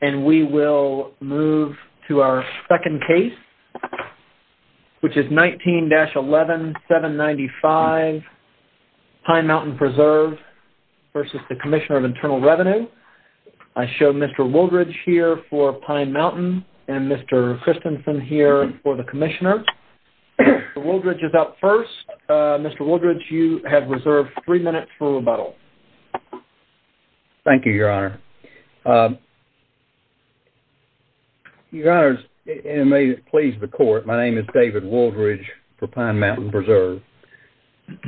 And we will move to our second case, which is 19-11, 795 Pine Mountain Preserve versus the Commissioner of Internal Revenue. I show Mr. Wooldridge here for Pine Mountain and Mr. Christensen here for the Commissioner. Mr. Wooldridge is up first. Mr. Wooldridge, you have reserved three minutes for rebuttal. Thank you, Your Honor. Your Honors, and may it please the Court, my name is David Wooldridge for Pine Mountain Preserve.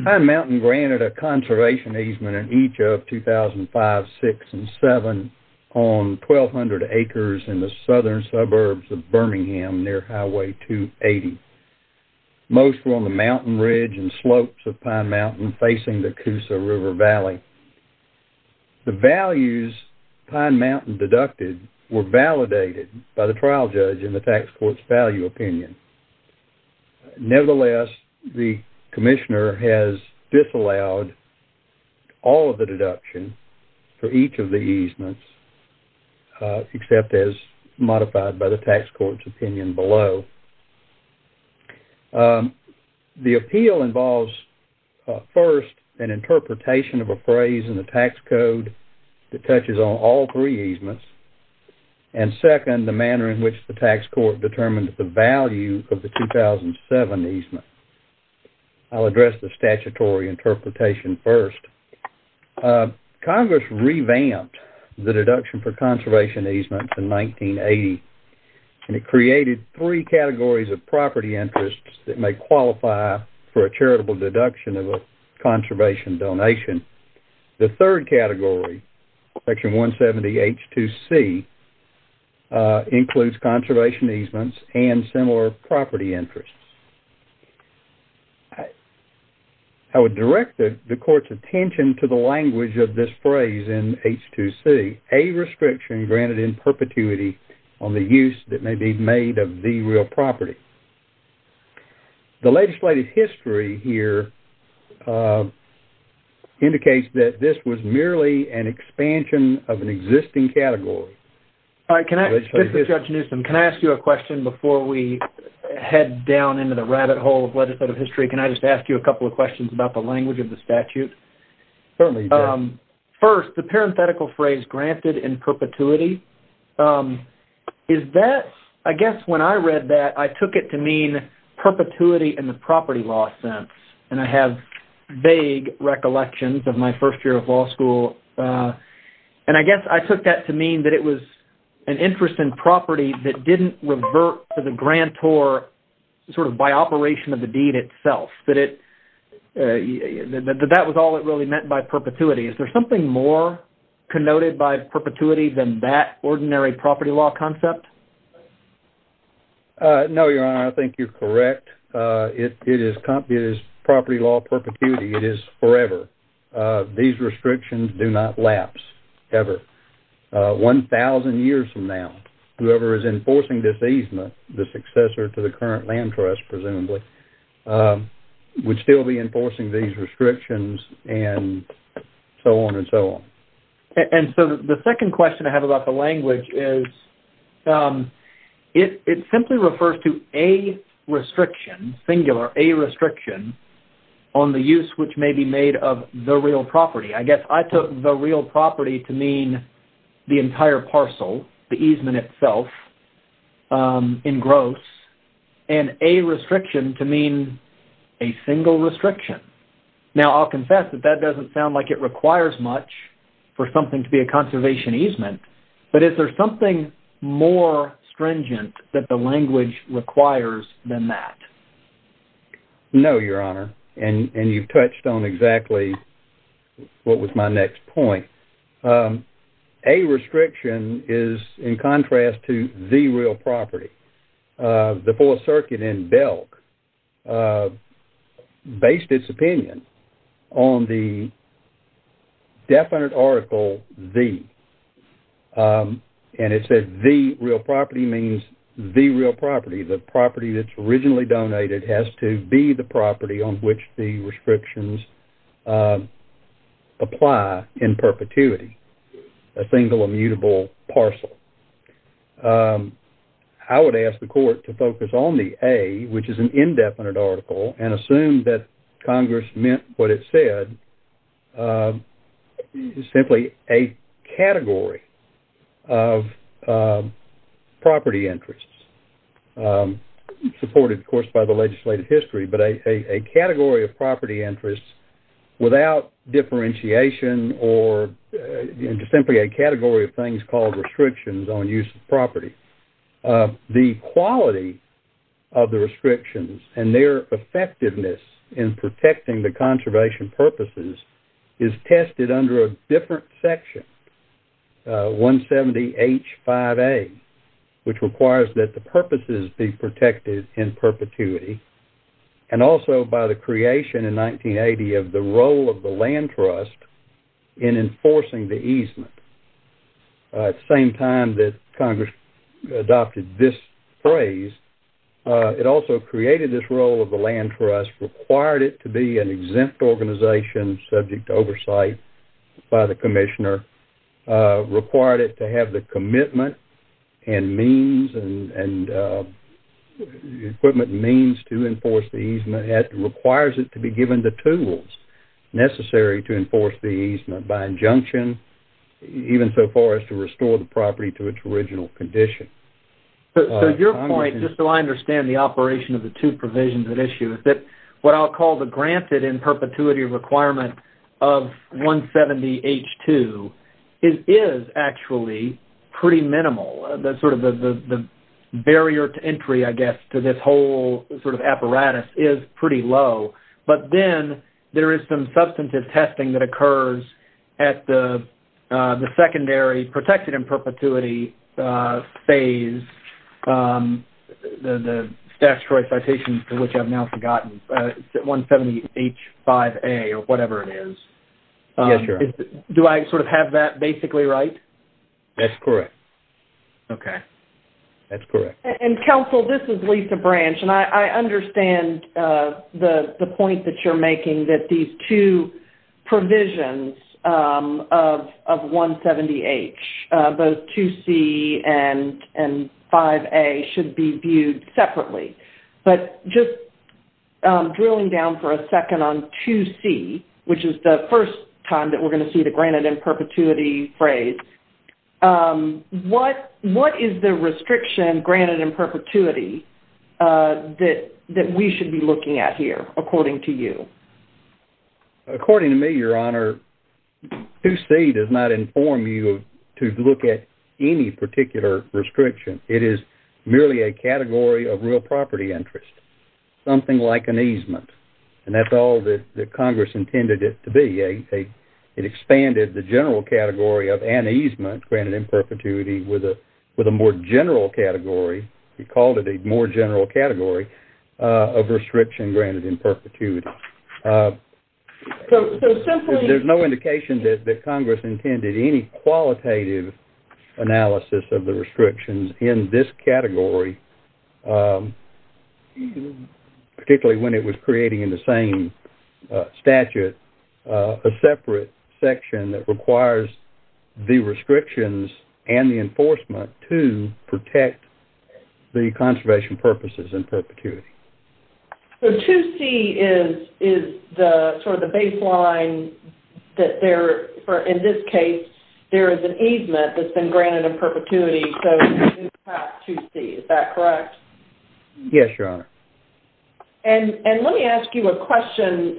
Pine Mountain granted a conservation easement in each of 2005, 6, and 7 on 1,200 acres in the southern suburbs of Birmingham near Highway 280. Most were on the mountain ridge and slopes of Pine Mountain facing the Coosa River Valley. The values Pine Mountain deducted were validated by the trial judge in the tax court's value opinion. Nevertheless, the Commissioner has disallowed all of the deduction for each of the easements, except as modified by the tax court's opinion below. The appeal involves, first, an interpretation of a phrase in the tax code that touches on all three easements, and second, the manner in which the tax court determined the value of the 2007 easement. I'll address the statutory interpretation first. Congress revamped the deduction for conservation easements in 1980, and it created three categories of property interests that may qualify for a charitable deduction of a conservation donation. The third category, Section 170H2C, includes conservation easements and similar property interests. I would direct the court's attention to the language of this phrase in H2C, a restriction granted in perpetuity on the use that may be made of the real property. The legislative history here indicates that this was merely an expansion of an existing category. This is Judge Newsom. Can I ask you a question before we head down into the rabbit hole of legislative history? Can I just ask you a couple of questions about the language of the statute? Certainly. First, the parenthetical phrase granted in perpetuity, I guess when I read that, I took it to mean perpetuity in the property law sense, and I have vague recollections of my first year of law school. I guess I took that to mean that it was an interest in property that didn't revert to the grantor by operation of the deed itself, that that was all it really meant by perpetuity. Is there something more connoted by perpetuity than that ordinary property law concept? No, Your Honor. I think you're correct. It is property law perpetuity. It is forever. These restrictions do not lapse ever. One thousand years from now, whoever is enforcing this easement, the successor to the current land trust, presumably, would still be enforcing these restrictions and so on and so on. And so the second question I have about the language is, it simply refers to a restriction, singular, a restriction, on the use which may be made of the real property. I guess I took the real property to mean the entire parcel, the easement itself, in gross, and a restriction to mean a single restriction. Now, I'll confess that that doesn't sound like it requires much for something to be a conservation easement, but is there something more stringent that the language requires than that? No, Your Honor. And you've touched on exactly what was my next point. A restriction is, in contrast to the real property, the Fourth Circuit in Belk based its opinion on the definite article, the. And it says the real property means the real property. The property that's originally donated has to be the property on which the restrictions apply in perpetuity, a single immutable parcel. I would ask the Court to focus on the A, which is an indefinite article, and assume that Congress meant what it said, simply a course by the legislative history, but a category of property interests without differentiation or simply a category of things called restrictions on use of property. The quality of the restrictions and their effectiveness in protecting the conservation purposes is tested under a different section, 170 H5A, which requires that the purposes be protected in perpetuity and also by the creation in 1980 of the role of the land trust in enforcing the easement. At the same time that Congress adopted this phrase, it also created this role of the commissioner, required it to have the commitment and means and equipment means to enforce the easement. It requires it to be given the tools necessary to enforce the easement by injunction even so far as to restore the property to its original condition. So your point, just so I understand the operation of the two provisions at issue, is that what I'll call the granted in perpetuity requirement of 170 H2, it is actually pretty minimal. The barrier to entry, I guess, to this whole apparatus is pretty low. But then there is some substantive testing that occurs at the secondary protected in perpetuity phase, the statutory citations to which I've now referred, which is 170 H5A or whatever it is. Do I sort of have that basically right? That's correct. Okay. That's correct. And counsel, this is Lisa Branch and I understand the point that you're making that these two drilling down for a second on 2C, which is the first time that we're going to see the granted in perpetuity phrase. What is the restriction granted in perpetuity that we should be looking at here, according to you? According to me, Your Honor, 2C does not inform you to look at any particular restriction. It is merely a category of real property interest. Something like an easement. And that's all that Congress intended it to be. It expanded the general category of an easement granted in perpetuity with a more general category. We called it a more general category of restriction granted in perpetuity. There's no indication that particularly when it was creating in the same statute, a separate section that requires the restrictions and the enforcement to protect the conservation purposes in perpetuity. So 2C is the sort of the baseline that there, in this case, there is an easement that's been granted in perpetuity. So it's perhaps 2C. Is that correct? Yes, Your Honor. And let me ask you a question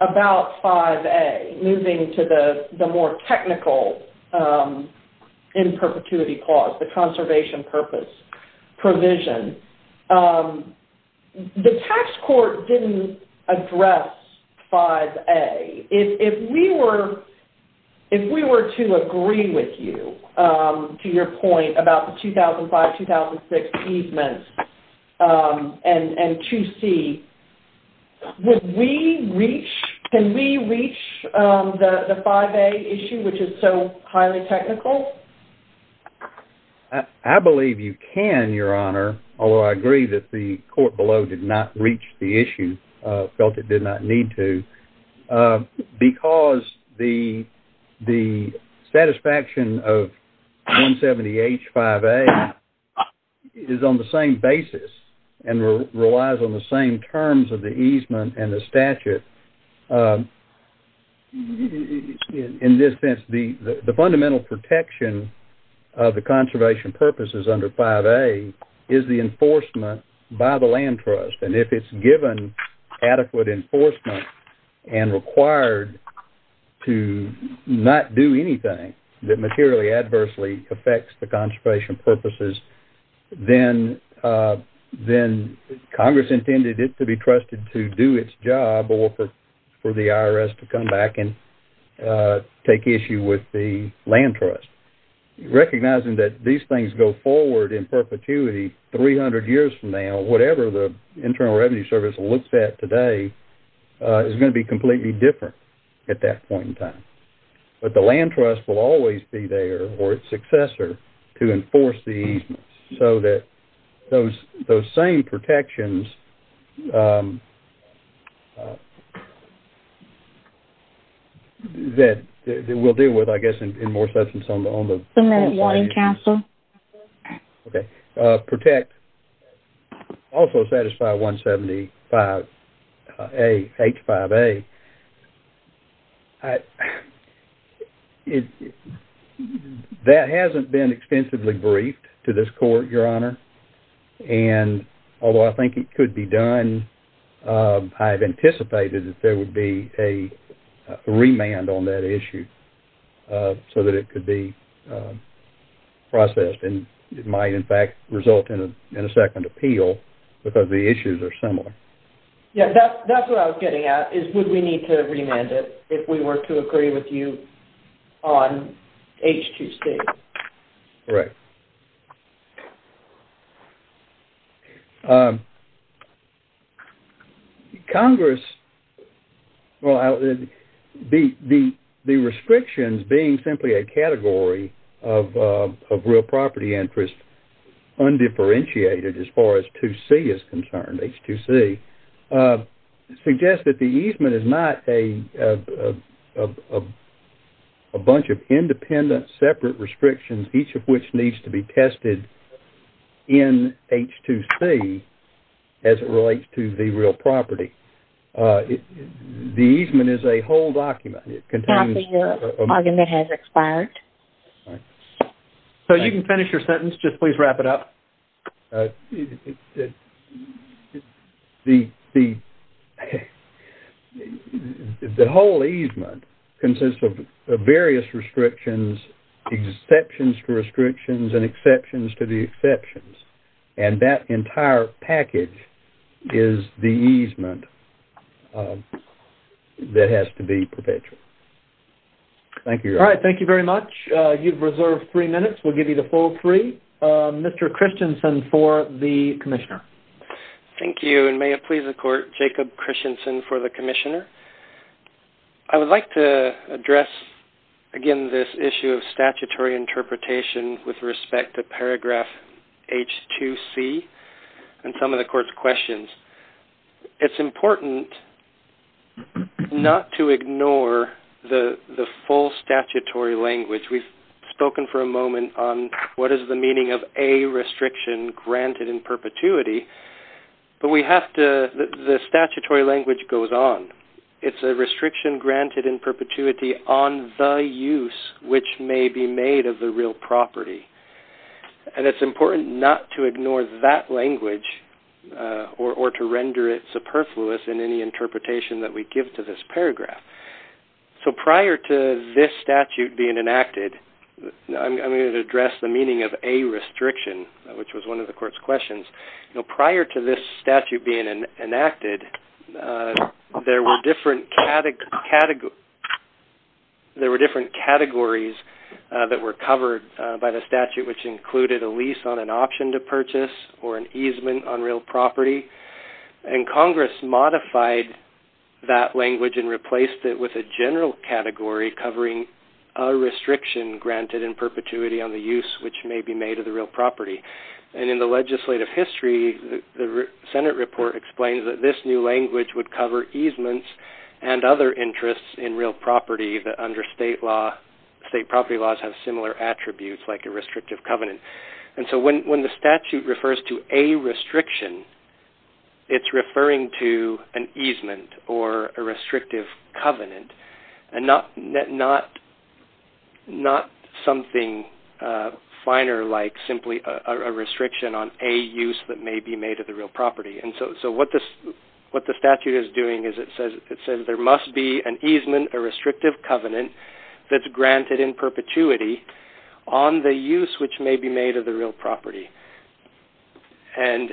about 5A, moving to the more technical in perpetuity clause, the conservation purpose provision. The tax court didn't address 5A. If we were to agree with you to your point about the easements and 2C, would we reach, can we reach the 5A issue, which is so highly technical? I believe you can, Your Honor. Although I agree that the court below did not reach the issue, felt it did not need to, because the satisfaction of 170H5A is on the same basis and relies on the same terms of the easement and the statute. In this sense, the fundamental protection of the conservation purposes under 5A is the enforcement by the land trust. And if it's given adequate enforcement and required to not do anything that materially adversely affects the conservation purposes, then Congress intended it to be trusted to do its job or for the IRS to come back and take issue with the land trust. Recognizing that these things go forward in perpetuity 300 years from now, whatever the Internal Revenue Service looks at today is going to be completely different at that point in time. But the land trust will always be there or its successor to enforce the easements, so that those same protections that we'll deal with, I guess, in more substance on the- One minute, warning counsel. Okay. Protect, also satisfy 175A, H5A. Okay. That hasn't been extensively briefed to this court, Your Honor. And although I think it could be done, I've anticipated that there would be a remand on that issue so that it could be processed and it might, in fact, result in a second appeal, because the issues are similar. Yeah, that's what I was getting at, is would we need to remand it if we were to agree with you on H2C? Correct. Congress, well, the restrictions being simply a category of real property interest undifferentiated as far as 2C is concerned, H2C, suggest that the easement is not a bunch of independent separate restrictions, each of which needs to be tested in H2C as it relates to the real property. The easement is a whole document. It contains- The document has expired. All right. So you can finish your sentence. Just please wrap it up. The whole easement consists of various restrictions, exceptions to restrictions, and exceptions to the exceptions. And that entire package is the easement that has to be perpetual. Thank you, Your Honor. Thank you very much. You've reserved three minutes. We'll give you the full three. Mr. Christensen for the Commissioner. Thank you. And may it please the Court, Jacob Christensen for the Commissioner. I would like to address, again, this issue of statutory interpretation with respect to paragraph H2C and some of the Court's questions. It's important not to ignore the full statutory language. We've spoken for a moment on what is the meaning of a restriction granted in perpetuity, but we have to- The statutory language goes on. It's a restriction granted in perpetuity on the use which may be made of the real property. And it's important not to ignore that language or to render it superfluous in any interpretation that we give to this paragraph. So prior to this statute being enacted- I'm going to address the meaning of a restriction, which was one of the Court's questions. Prior to this statute being enacted, there were different categories that were covered by the statute, which included a lease on an option to purchase or an easement on real property. And Congress modified that language and replaced it with a general category covering a restriction granted in perpetuity on the use which may be made of the real property. And in the legislative history, the Senate report explains that this new language would cover easements and other interests in real property that under state property laws have similar attributes like a restrictive covenant. And so when the statute refers to a restriction, it's referring to an easement or a restrictive covenant and not something finer like simply a restriction on a use that may be made of the real property. And so what the statute is doing is it says there must be an easement, a restrictive covenant that's granted in perpetuity on the use which may be made of the real property. And...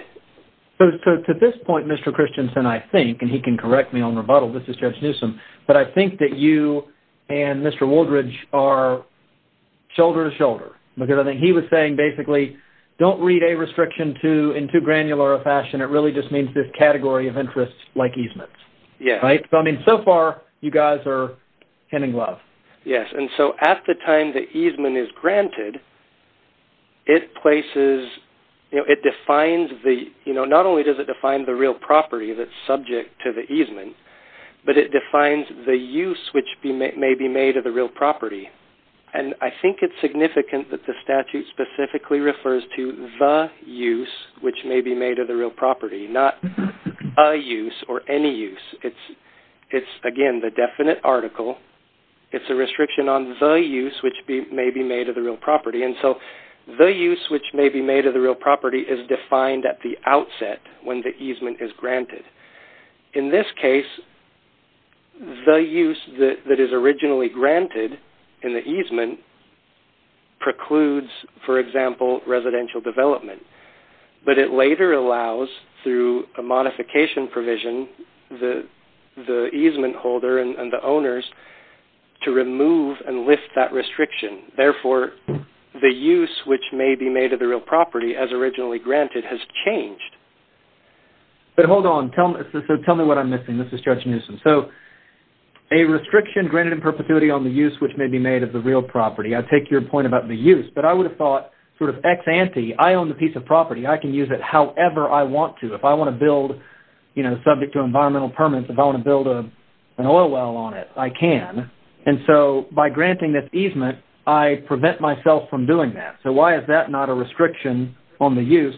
So to this point, Mr. Christensen, I think, and he can correct me on rebuttal, this is Judge Newsom, but I think that you and Mr. Woodridge are shoulder to shoulder. Because I think he was saying basically, don't read a restriction in too granular a fashion. It really just means this category of interests like easements. Yes. Right? So I mean, so far, you guys are hitting love. Yes. And so at the time the easement is granted, it places... It defines the... Not only does it define the real property that's subject to the easement, but it defines the use which may be made of the real property. And I think it's significant that the statute specifically refers to the use which may be made of the real property, not a use or any use. It's, again, the definite article. It's a restriction on the use which may be made of the real property. And so the use which may be made of the real property is defined at the outset when the easement is granted. In this case, the use that is originally granted in the easement precludes, for example, residential development. But it later allows, through a modification provision, the easement holder and the owners to remove and lift that restriction. Therefore, the use which may be made of the real property as originally granted has changed. But hold on. So tell me what I'm missing. This is Judge Newsom. So a restriction granted in the use. But I would have thought sort of ex ante. I own the piece of property. I can use it however I want to. If I want to build, you know, subject to environmental permits, if I want to build an oil well on it, I can. And so by granting this easement, I prevent myself from doing that. So why is that not a restriction on the use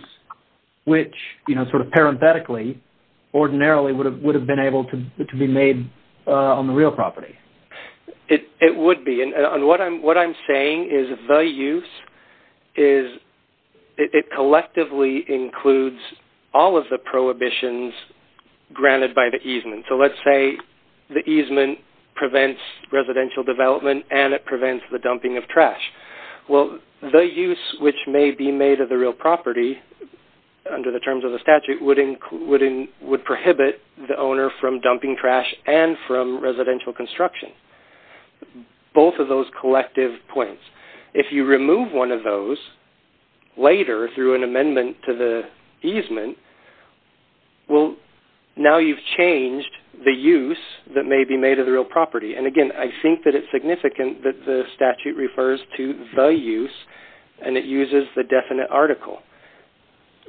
which, you know, sort of parenthetically, ordinarily would have been able to be made on the real property? It would be. And what I'm saying is the use is it collectively includes all of the prohibitions granted by the easement. So let's say the easement prevents residential development and it prevents the dumping of trash. Well, the use which may be made of the real property under the terms of the statute would prohibit the owner from dumping trash and from residential construction. Both of those collective points. If you remove one of those later through an amendment to the easement, well, now you've changed the use that may be made of the real property. And again, I think that it's significant that the statute refers to the use and it uses the definite article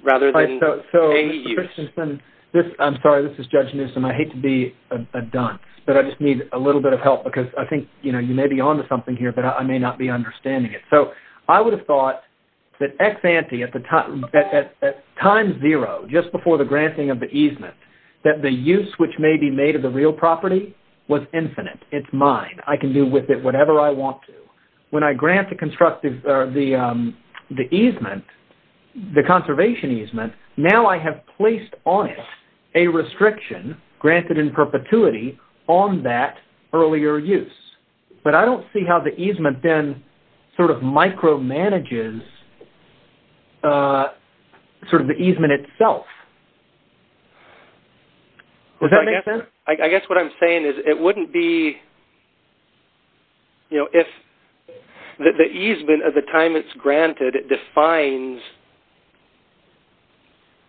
rather than a use. So, Mr. Christensen, I'm sorry, this is Judge Newsom. I hate to be a dunce, but I just need a little bit of help because I think, you know, you may be onto something here, but I may not be understanding it. So I would have thought that ex-ante at time zero, just before the granting of the easement, that the use which may be made of the real property was infinite. It's mine. I can do with it whatever I want to. When I grant the easement, the conservation easement, now I have placed on it a restriction granted in perpetuity on that earlier use. But I don't see how the easement then sort of micromanages sort of the easement itself. Does that make sense? I guess what I'm saying is it wouldn't be, you know, if the easement at the time it's granted, it defines,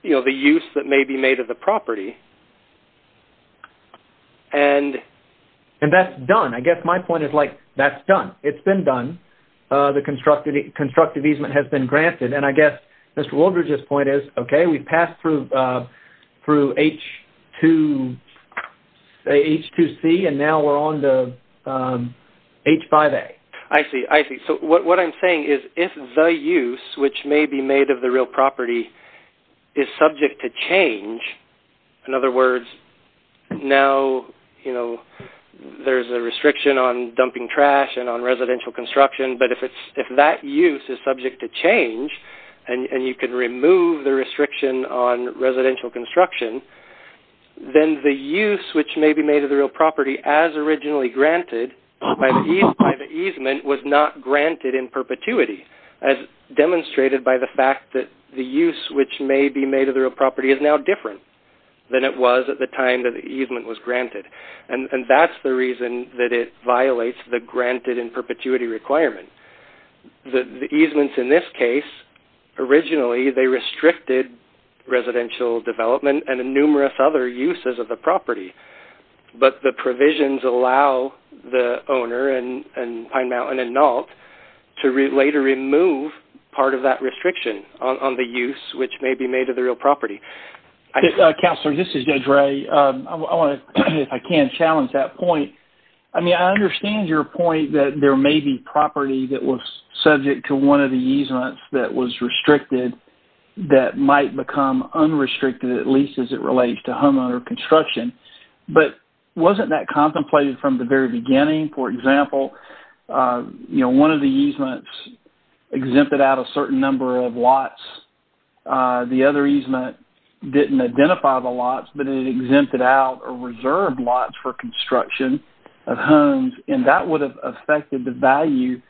you know, the use that may be made of the property. And that's done. I guess my point is like, that's done. It's been done. The constructive easement has been granted. And I guess Mr. Woodridge's point is, okay, we've passed through H2C and now we're on to H5A. I see. I see. So what I'm saying is if the use which may be made of the real property is subject to change, in other words, now, you know, there's a restriction on dumping trash and on residential construction. But if that use is subject to change and you can remove the restriction on residential construction, then the use which may be made of the real property as originally granted by the easement was not granted in perpetuity as demonstrated by the fact that the use which may be made of the real property is now different than it was at the time that the easement was granted. And that's the reason that it violates the granted in perpetuity requirement. The easements in this case, originally, they restricted residential development and numerous other uses of the property. But the provisions allow the owner and Pine Mountain and NALT to later remove part of that restriction on the use which may be made of the real property. Counselor, this is Judge Ray. I want to, if I can, challenge that point. I mean, I understand your point that there may be property that was subject to one of the easements that was restricted that might become unrestricted, at least as it relates to homeowner construction. But wasn't that contemplated from the very beginning? For example, you know, one of the easements exempted out a certain number of lots. The other easement didn't identify the lots, but it exempted out or reserved lots for construction of homes. And that would have affected the value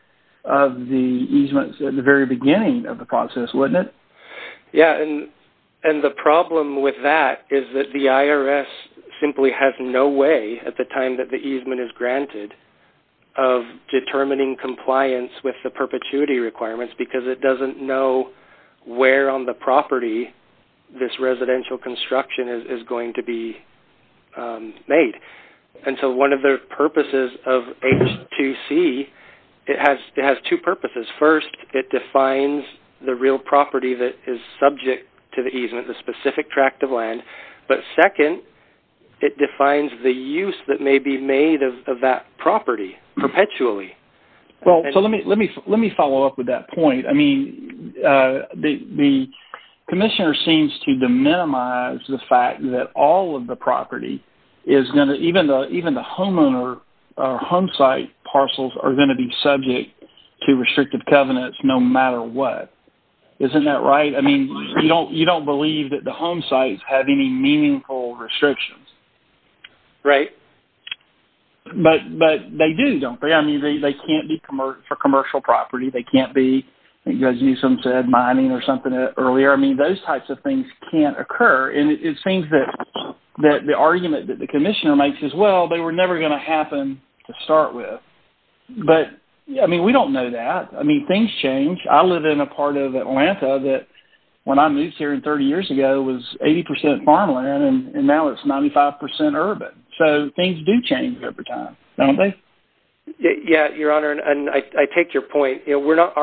of the easements at the very beginning of the process, wouldn't it? Yeah. And the problem with that is that the IRS simply has no way at the time that the easement is granted of determining compliance with the perpetuity requirements because it doesn't know where on the property this residential construction is going to be made. And so, one of the purposes of H2C, it has two purposes. First, it defines the real property that is subject to the easement, the specific tract of land. But second, it defines the use that may be made of that property perpetually. Well, so let me follow up with that point. I mean, the commissioner seems to minimize the fact that all of the property is going to, even the home site parcels are going to be subject to restrictive covenants no matter what. Isn't that right? I mean, you don't believe that the home sites have any meaningful restrictions. Right. But they do, don't they? I mean, they can't be for commercial property. They can't be, I think you guys used some mining or something earlier. I mean, those types of things can't be. The argument that the commissioner makes is, well, they were never going to happen to start with. But I mean, we don't know that. I mean, things change. I live in a part of Atlanta that when I moved here 30 years ago was 80% farmland and now it's 95% urban. So, things do change every time, don't they? Yeah, your honor. And I take your point. We're not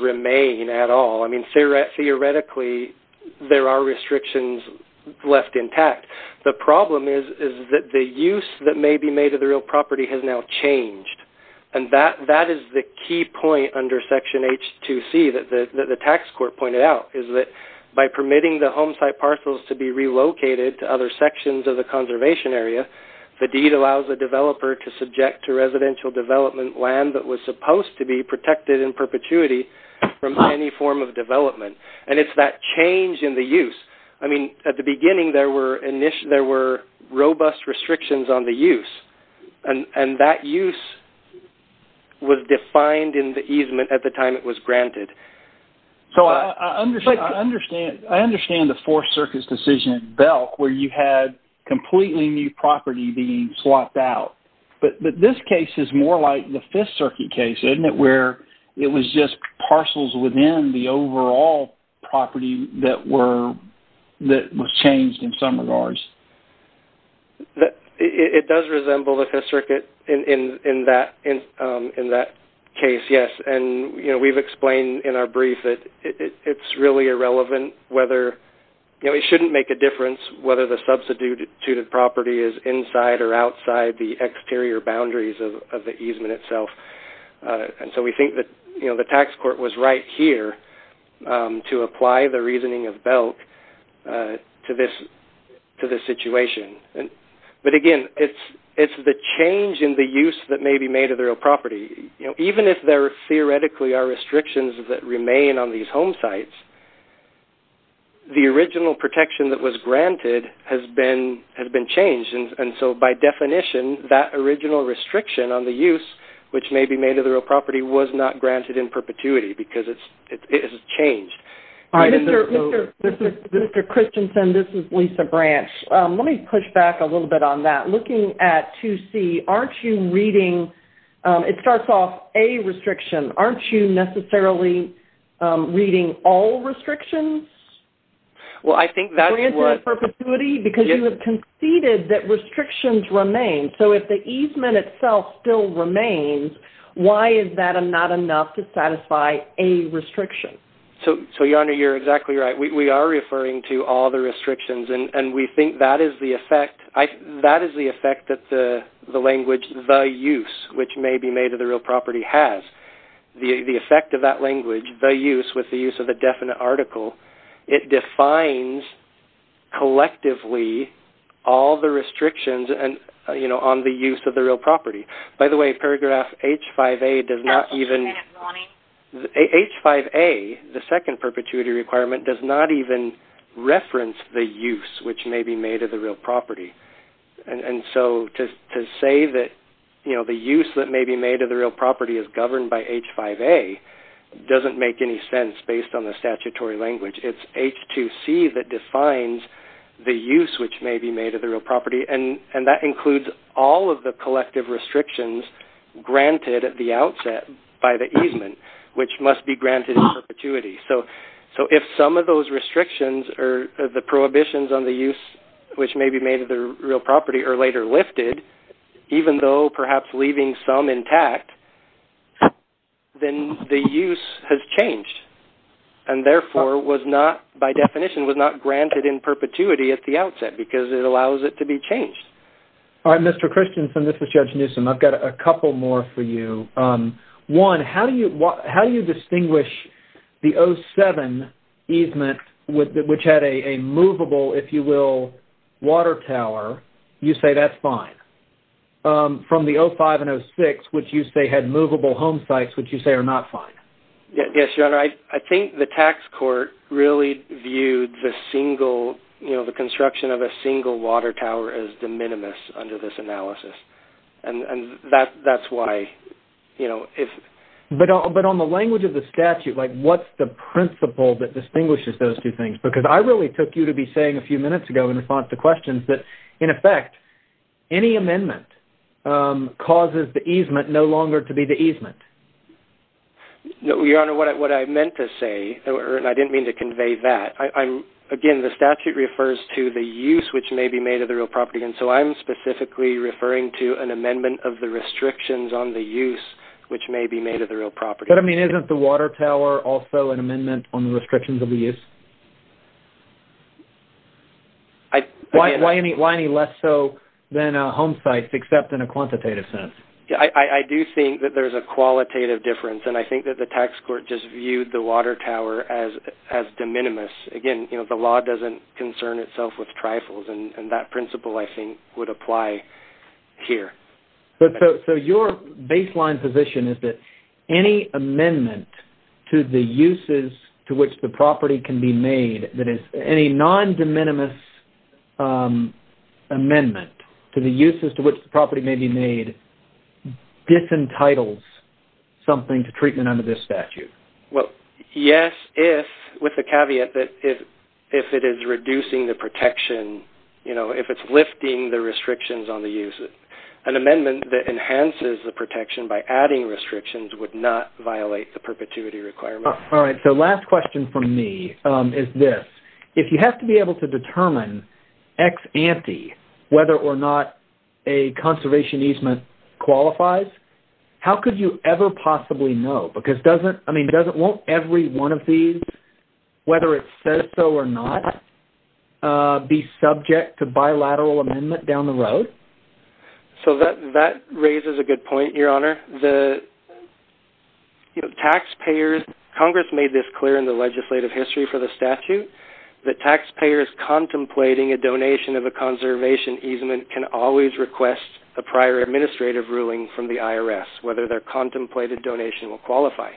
remain at all. I mean, theoretically, there are restrictions left intact. The problem is that the use that may be made of the real property has now changed. And that is the key point under section H2C that the tax court pointed out is that by permitting the home site parcels to be relocated to other sections of the conservation area, the deed allows the developer to subject to residential development land that was supposed to be protected in perpetuity from any form of development. And it's that change in the use. I mean, at the beginning, there were robust restrictions on the use. And that use was defined in the easement at the time it was granted. So, I understand the Fourth Circuit's decision in Belk where you had completely new property being swapped out. But this case is more like the Fifth Circuit case, isn't it, where it was just parcels within the overall property that was changed in some regards? It does resemble the Fifth Circuit in that case, yes. And we've explained in our brief that it's really irrelevant whether... It shouldn't make a difference whether the substituted property is inside or outside the exterior boundaries of the easement itself. And so, we think that, you know, the tax court was right here to apply the reasoning of Belk to this situation. But again, it's the change in the use that may be made of the real property. You know, even if there theoretically are restrictions that remain on these home sites, the original protection that was granted has been changed. And so, by definition, that original restriction on the use which may be made of the real property was not granted in perpetuity because it has changed. Mr. Christensen, this is Lisa Branch. Let me push back a little bit on that. Looking at 2C, aren't you reading... It starts off with a restriction. Aren't you necessarily reading all restrictions? Well, I think that's what... For instance, perpetuity, because you have conceded that restrictions remain. So, if the easement itself still remains, why is that not enough to satisfy a restriction? So, Your Honor, you're exactly right. We are referring to all the restrictions. And we think that is the effect that the language, the use, which may be made of the real property has. The effect of that language, the use, with the use of the definite article, it defines collectively all the restrictions on the use of the real property. By the way, paragraph H5A does not even... H5A, the second perpetuity requirement, does not even reference the use which may be made of the real property. And so, to say that the use that may be made of the real property is governed by H5A doesn't make any sense based on the statutory language. It's H2C that defines the use which may be made of the real property. And that includes all of the collective restrictions granted at the outset by the easement, which must be granted in perpetuity. So, if some of those restrictions or the prohibitions on the use which may be made of the real property are later lifted, even though perhaps leaving some intact, then the use has changed and therefore was not, by definition, was not granted in perpetuity at the outset because it allows it to be changed. All right, Mr. Christianson, this is Judge Newsom. I've got a couple more for you. One, how do you distinguish the 07 easement which had a movable, if you will, water tower? You say that's fine. From the 05 and 06, which you say had movable home sites, which you say are not fine? Yes, Your Honor. I think the tax court really viewed the single, you know, the construction of a single water tower as de minimis under this analysis. And that's why, you know, if... But on the language of the statute, like what's the principle that distinguishes those two things? Because I really took you to be saying a few minutes ago in response to questions that, in effect, any amendment causes the easement no longer to be the easement. No, Your Honor. What I meant to say, and I didn't mean to convey that, I'm... Again, the statute refers to the use which may be made of the real property. And so I'm specifically referring to an amendment of the restrictions on the use which may be made of the real property. But, I mean, isn't the water tower also an amendment on the restrictions of the use? I... Why any less so than home sites, except in a quantitative sense? Yeah, I do think that there's a qualitative difference. And I think that the tax court just viewed the water tower as de minimis. Again, you know, the law doesn't concern itself with trifles. And that principle, I think, would apply here. But so your baseline position is that any amendment to the uses to which the property can be made, that is, any non-de minimis amendment to the uses to which the property may be made, disentitles something to treatment under this statute. Well, yes, if... With the caveat that if it is reducing the protection, you know, if it's lifting the restrictions on the use, an amendment that enhances the protection by adding restrictions would not violate the perpetuity requirement. All right. So last question from me is this. If you have to be able to determine ex ante whether or not a conservation easement qualifies, how could you ever possibly know? Because doesn't... I mean, doesn't... Won't every one of these, whether it says so or not, be subject to bilateral amendment down the road? So that raises a good point, Your Honor. The, you know, taxpayers... Congress made this clear in the legislative history for the statute, that taxpayers contemplating a donation of a conservation easement can always request a prior administrative ruling from the IRS, whether their contemplated donation will qualify.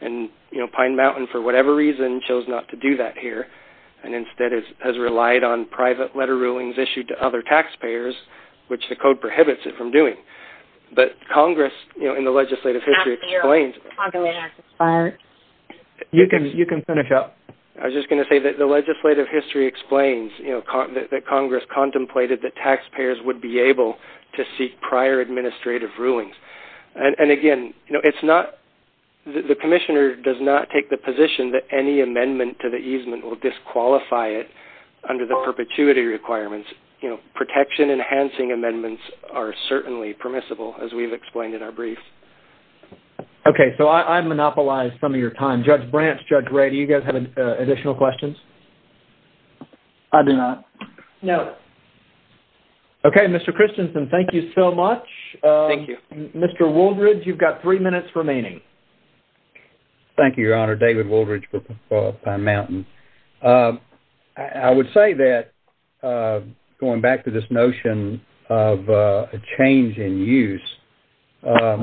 And, you know, Pine Mountain, for whatever reason, chose not to do that here, and instead has relied on private letter rulings issued to other taxpayers, which the code prohibits it from doing. But Congress, you know, in the legislative history explains... You can finish up. I was just going to say that the legislative history explains, you know, that Congress contemplated that taxpayers would be able to seek prior administrative rulings. And again, you know, it's not... The commissioner does not take the position that any amendment to the easement will disqualify it under the perpetuity requirements, you know, protection enhancing amendments are certainly permissible, as we've explained in our brief. Okay. So I've monopolized some of your time. Judge Branch, Judge Ray, do you guys have additional questions? I do not. No. Okay. Mr. Christensen, thank you so much. Thank you. Mr. Wooldridge, you've got three minutes remaining. Thank you, Your Honor. David Wooldridge for Pine Mountain. I would say that, going back to this notion of a change in use,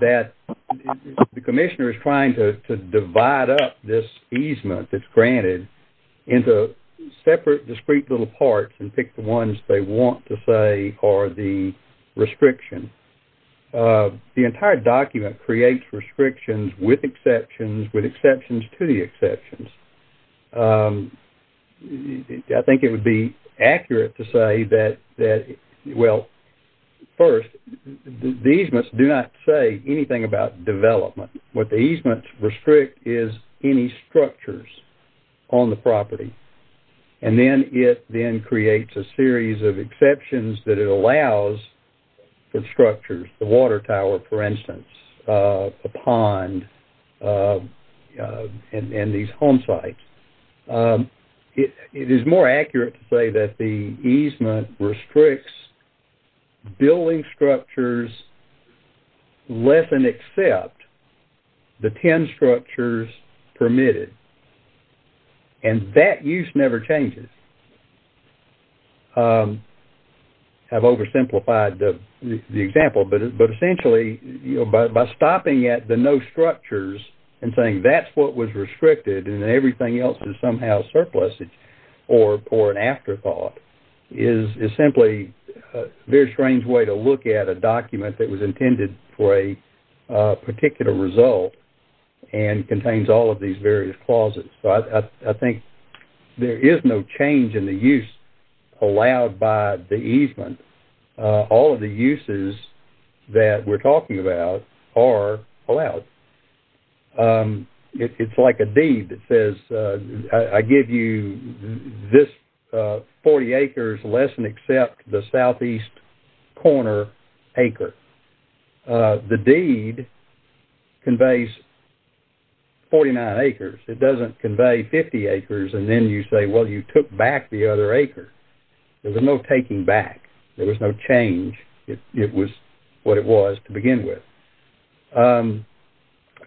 that the commissioner is trying to divide up this easement that's granted into separate, discrete little parts and pick the ones they restriction. The entire document creates restrictions with exceptions, with exceptions to the exceptions. I think it would be accurate to say that, well, first, the easements do not say anything about development. What the easements restrict is any structures on the property. And then it then creates a series of exceptions that it allows for structures, the water tower, for instance, a pond, and these home sites. It is more accurate to say that the easement restricts structures less than except the 10 structures permitted. And that use never changes. I've oversimplified the example, but essentially, by stopping at the no structures and saying that's what was restricted and everything else is somehow surplusage or an afterthought is simply a very look at a document that was intended for a particular result and contains all of these various clauses. I think there is no change in the use allowed by the easement. All of the uses that we're talking about are allowed. It's like a deed that says, I give you this 40 acres less than except the southeast corner acre. The deed conveys 49 acres. It doesn't convey 50 acres and then you say, well, you took back the other acre. There was no taking back. There was no change. It was what it was to begin with.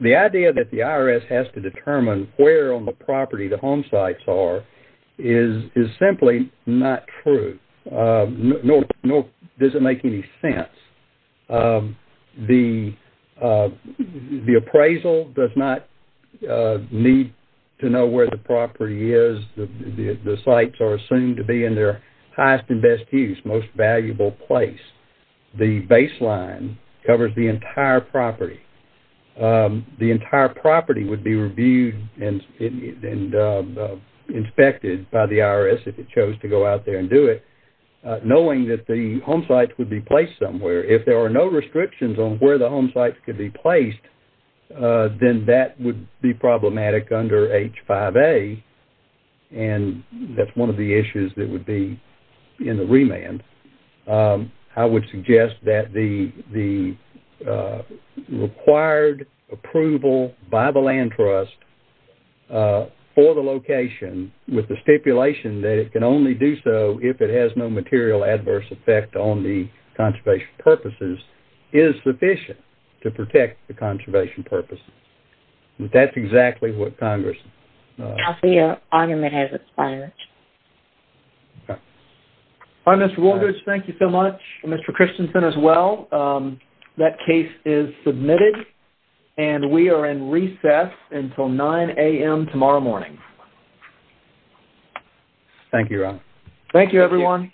The idea that the IRS has to determine where on the property the home sites are is simply not true, nor does it make any sense. The appraisal does not need to know where the property is. The sites are assumed to be in their highest and best use, most valuable place. The baseline covers the entire property. The entire property would be reviewed and inspected by the IRS if it chose to go out there and do it, knowing that the home sites would be placed somewhere. If there are no restrictions on where the home sites could be placed, then that would be problematic under H5A and that's one of the issues that would be in the I would suggest that the required approval by the land trust for the location with the stipulation that it can only do so if it has no material adverse effect on the conservation purposes is sufficient to protect the conservation purposes. That's exactly what Congress... I see your argument has expired. Okay. All right, Mr. Walters, thank you so much. Mr. Christensen as well. That case is submitted and we are in recess until 9 a.m. tomorrow morning. Thank you, Ron. Thank you, everyone.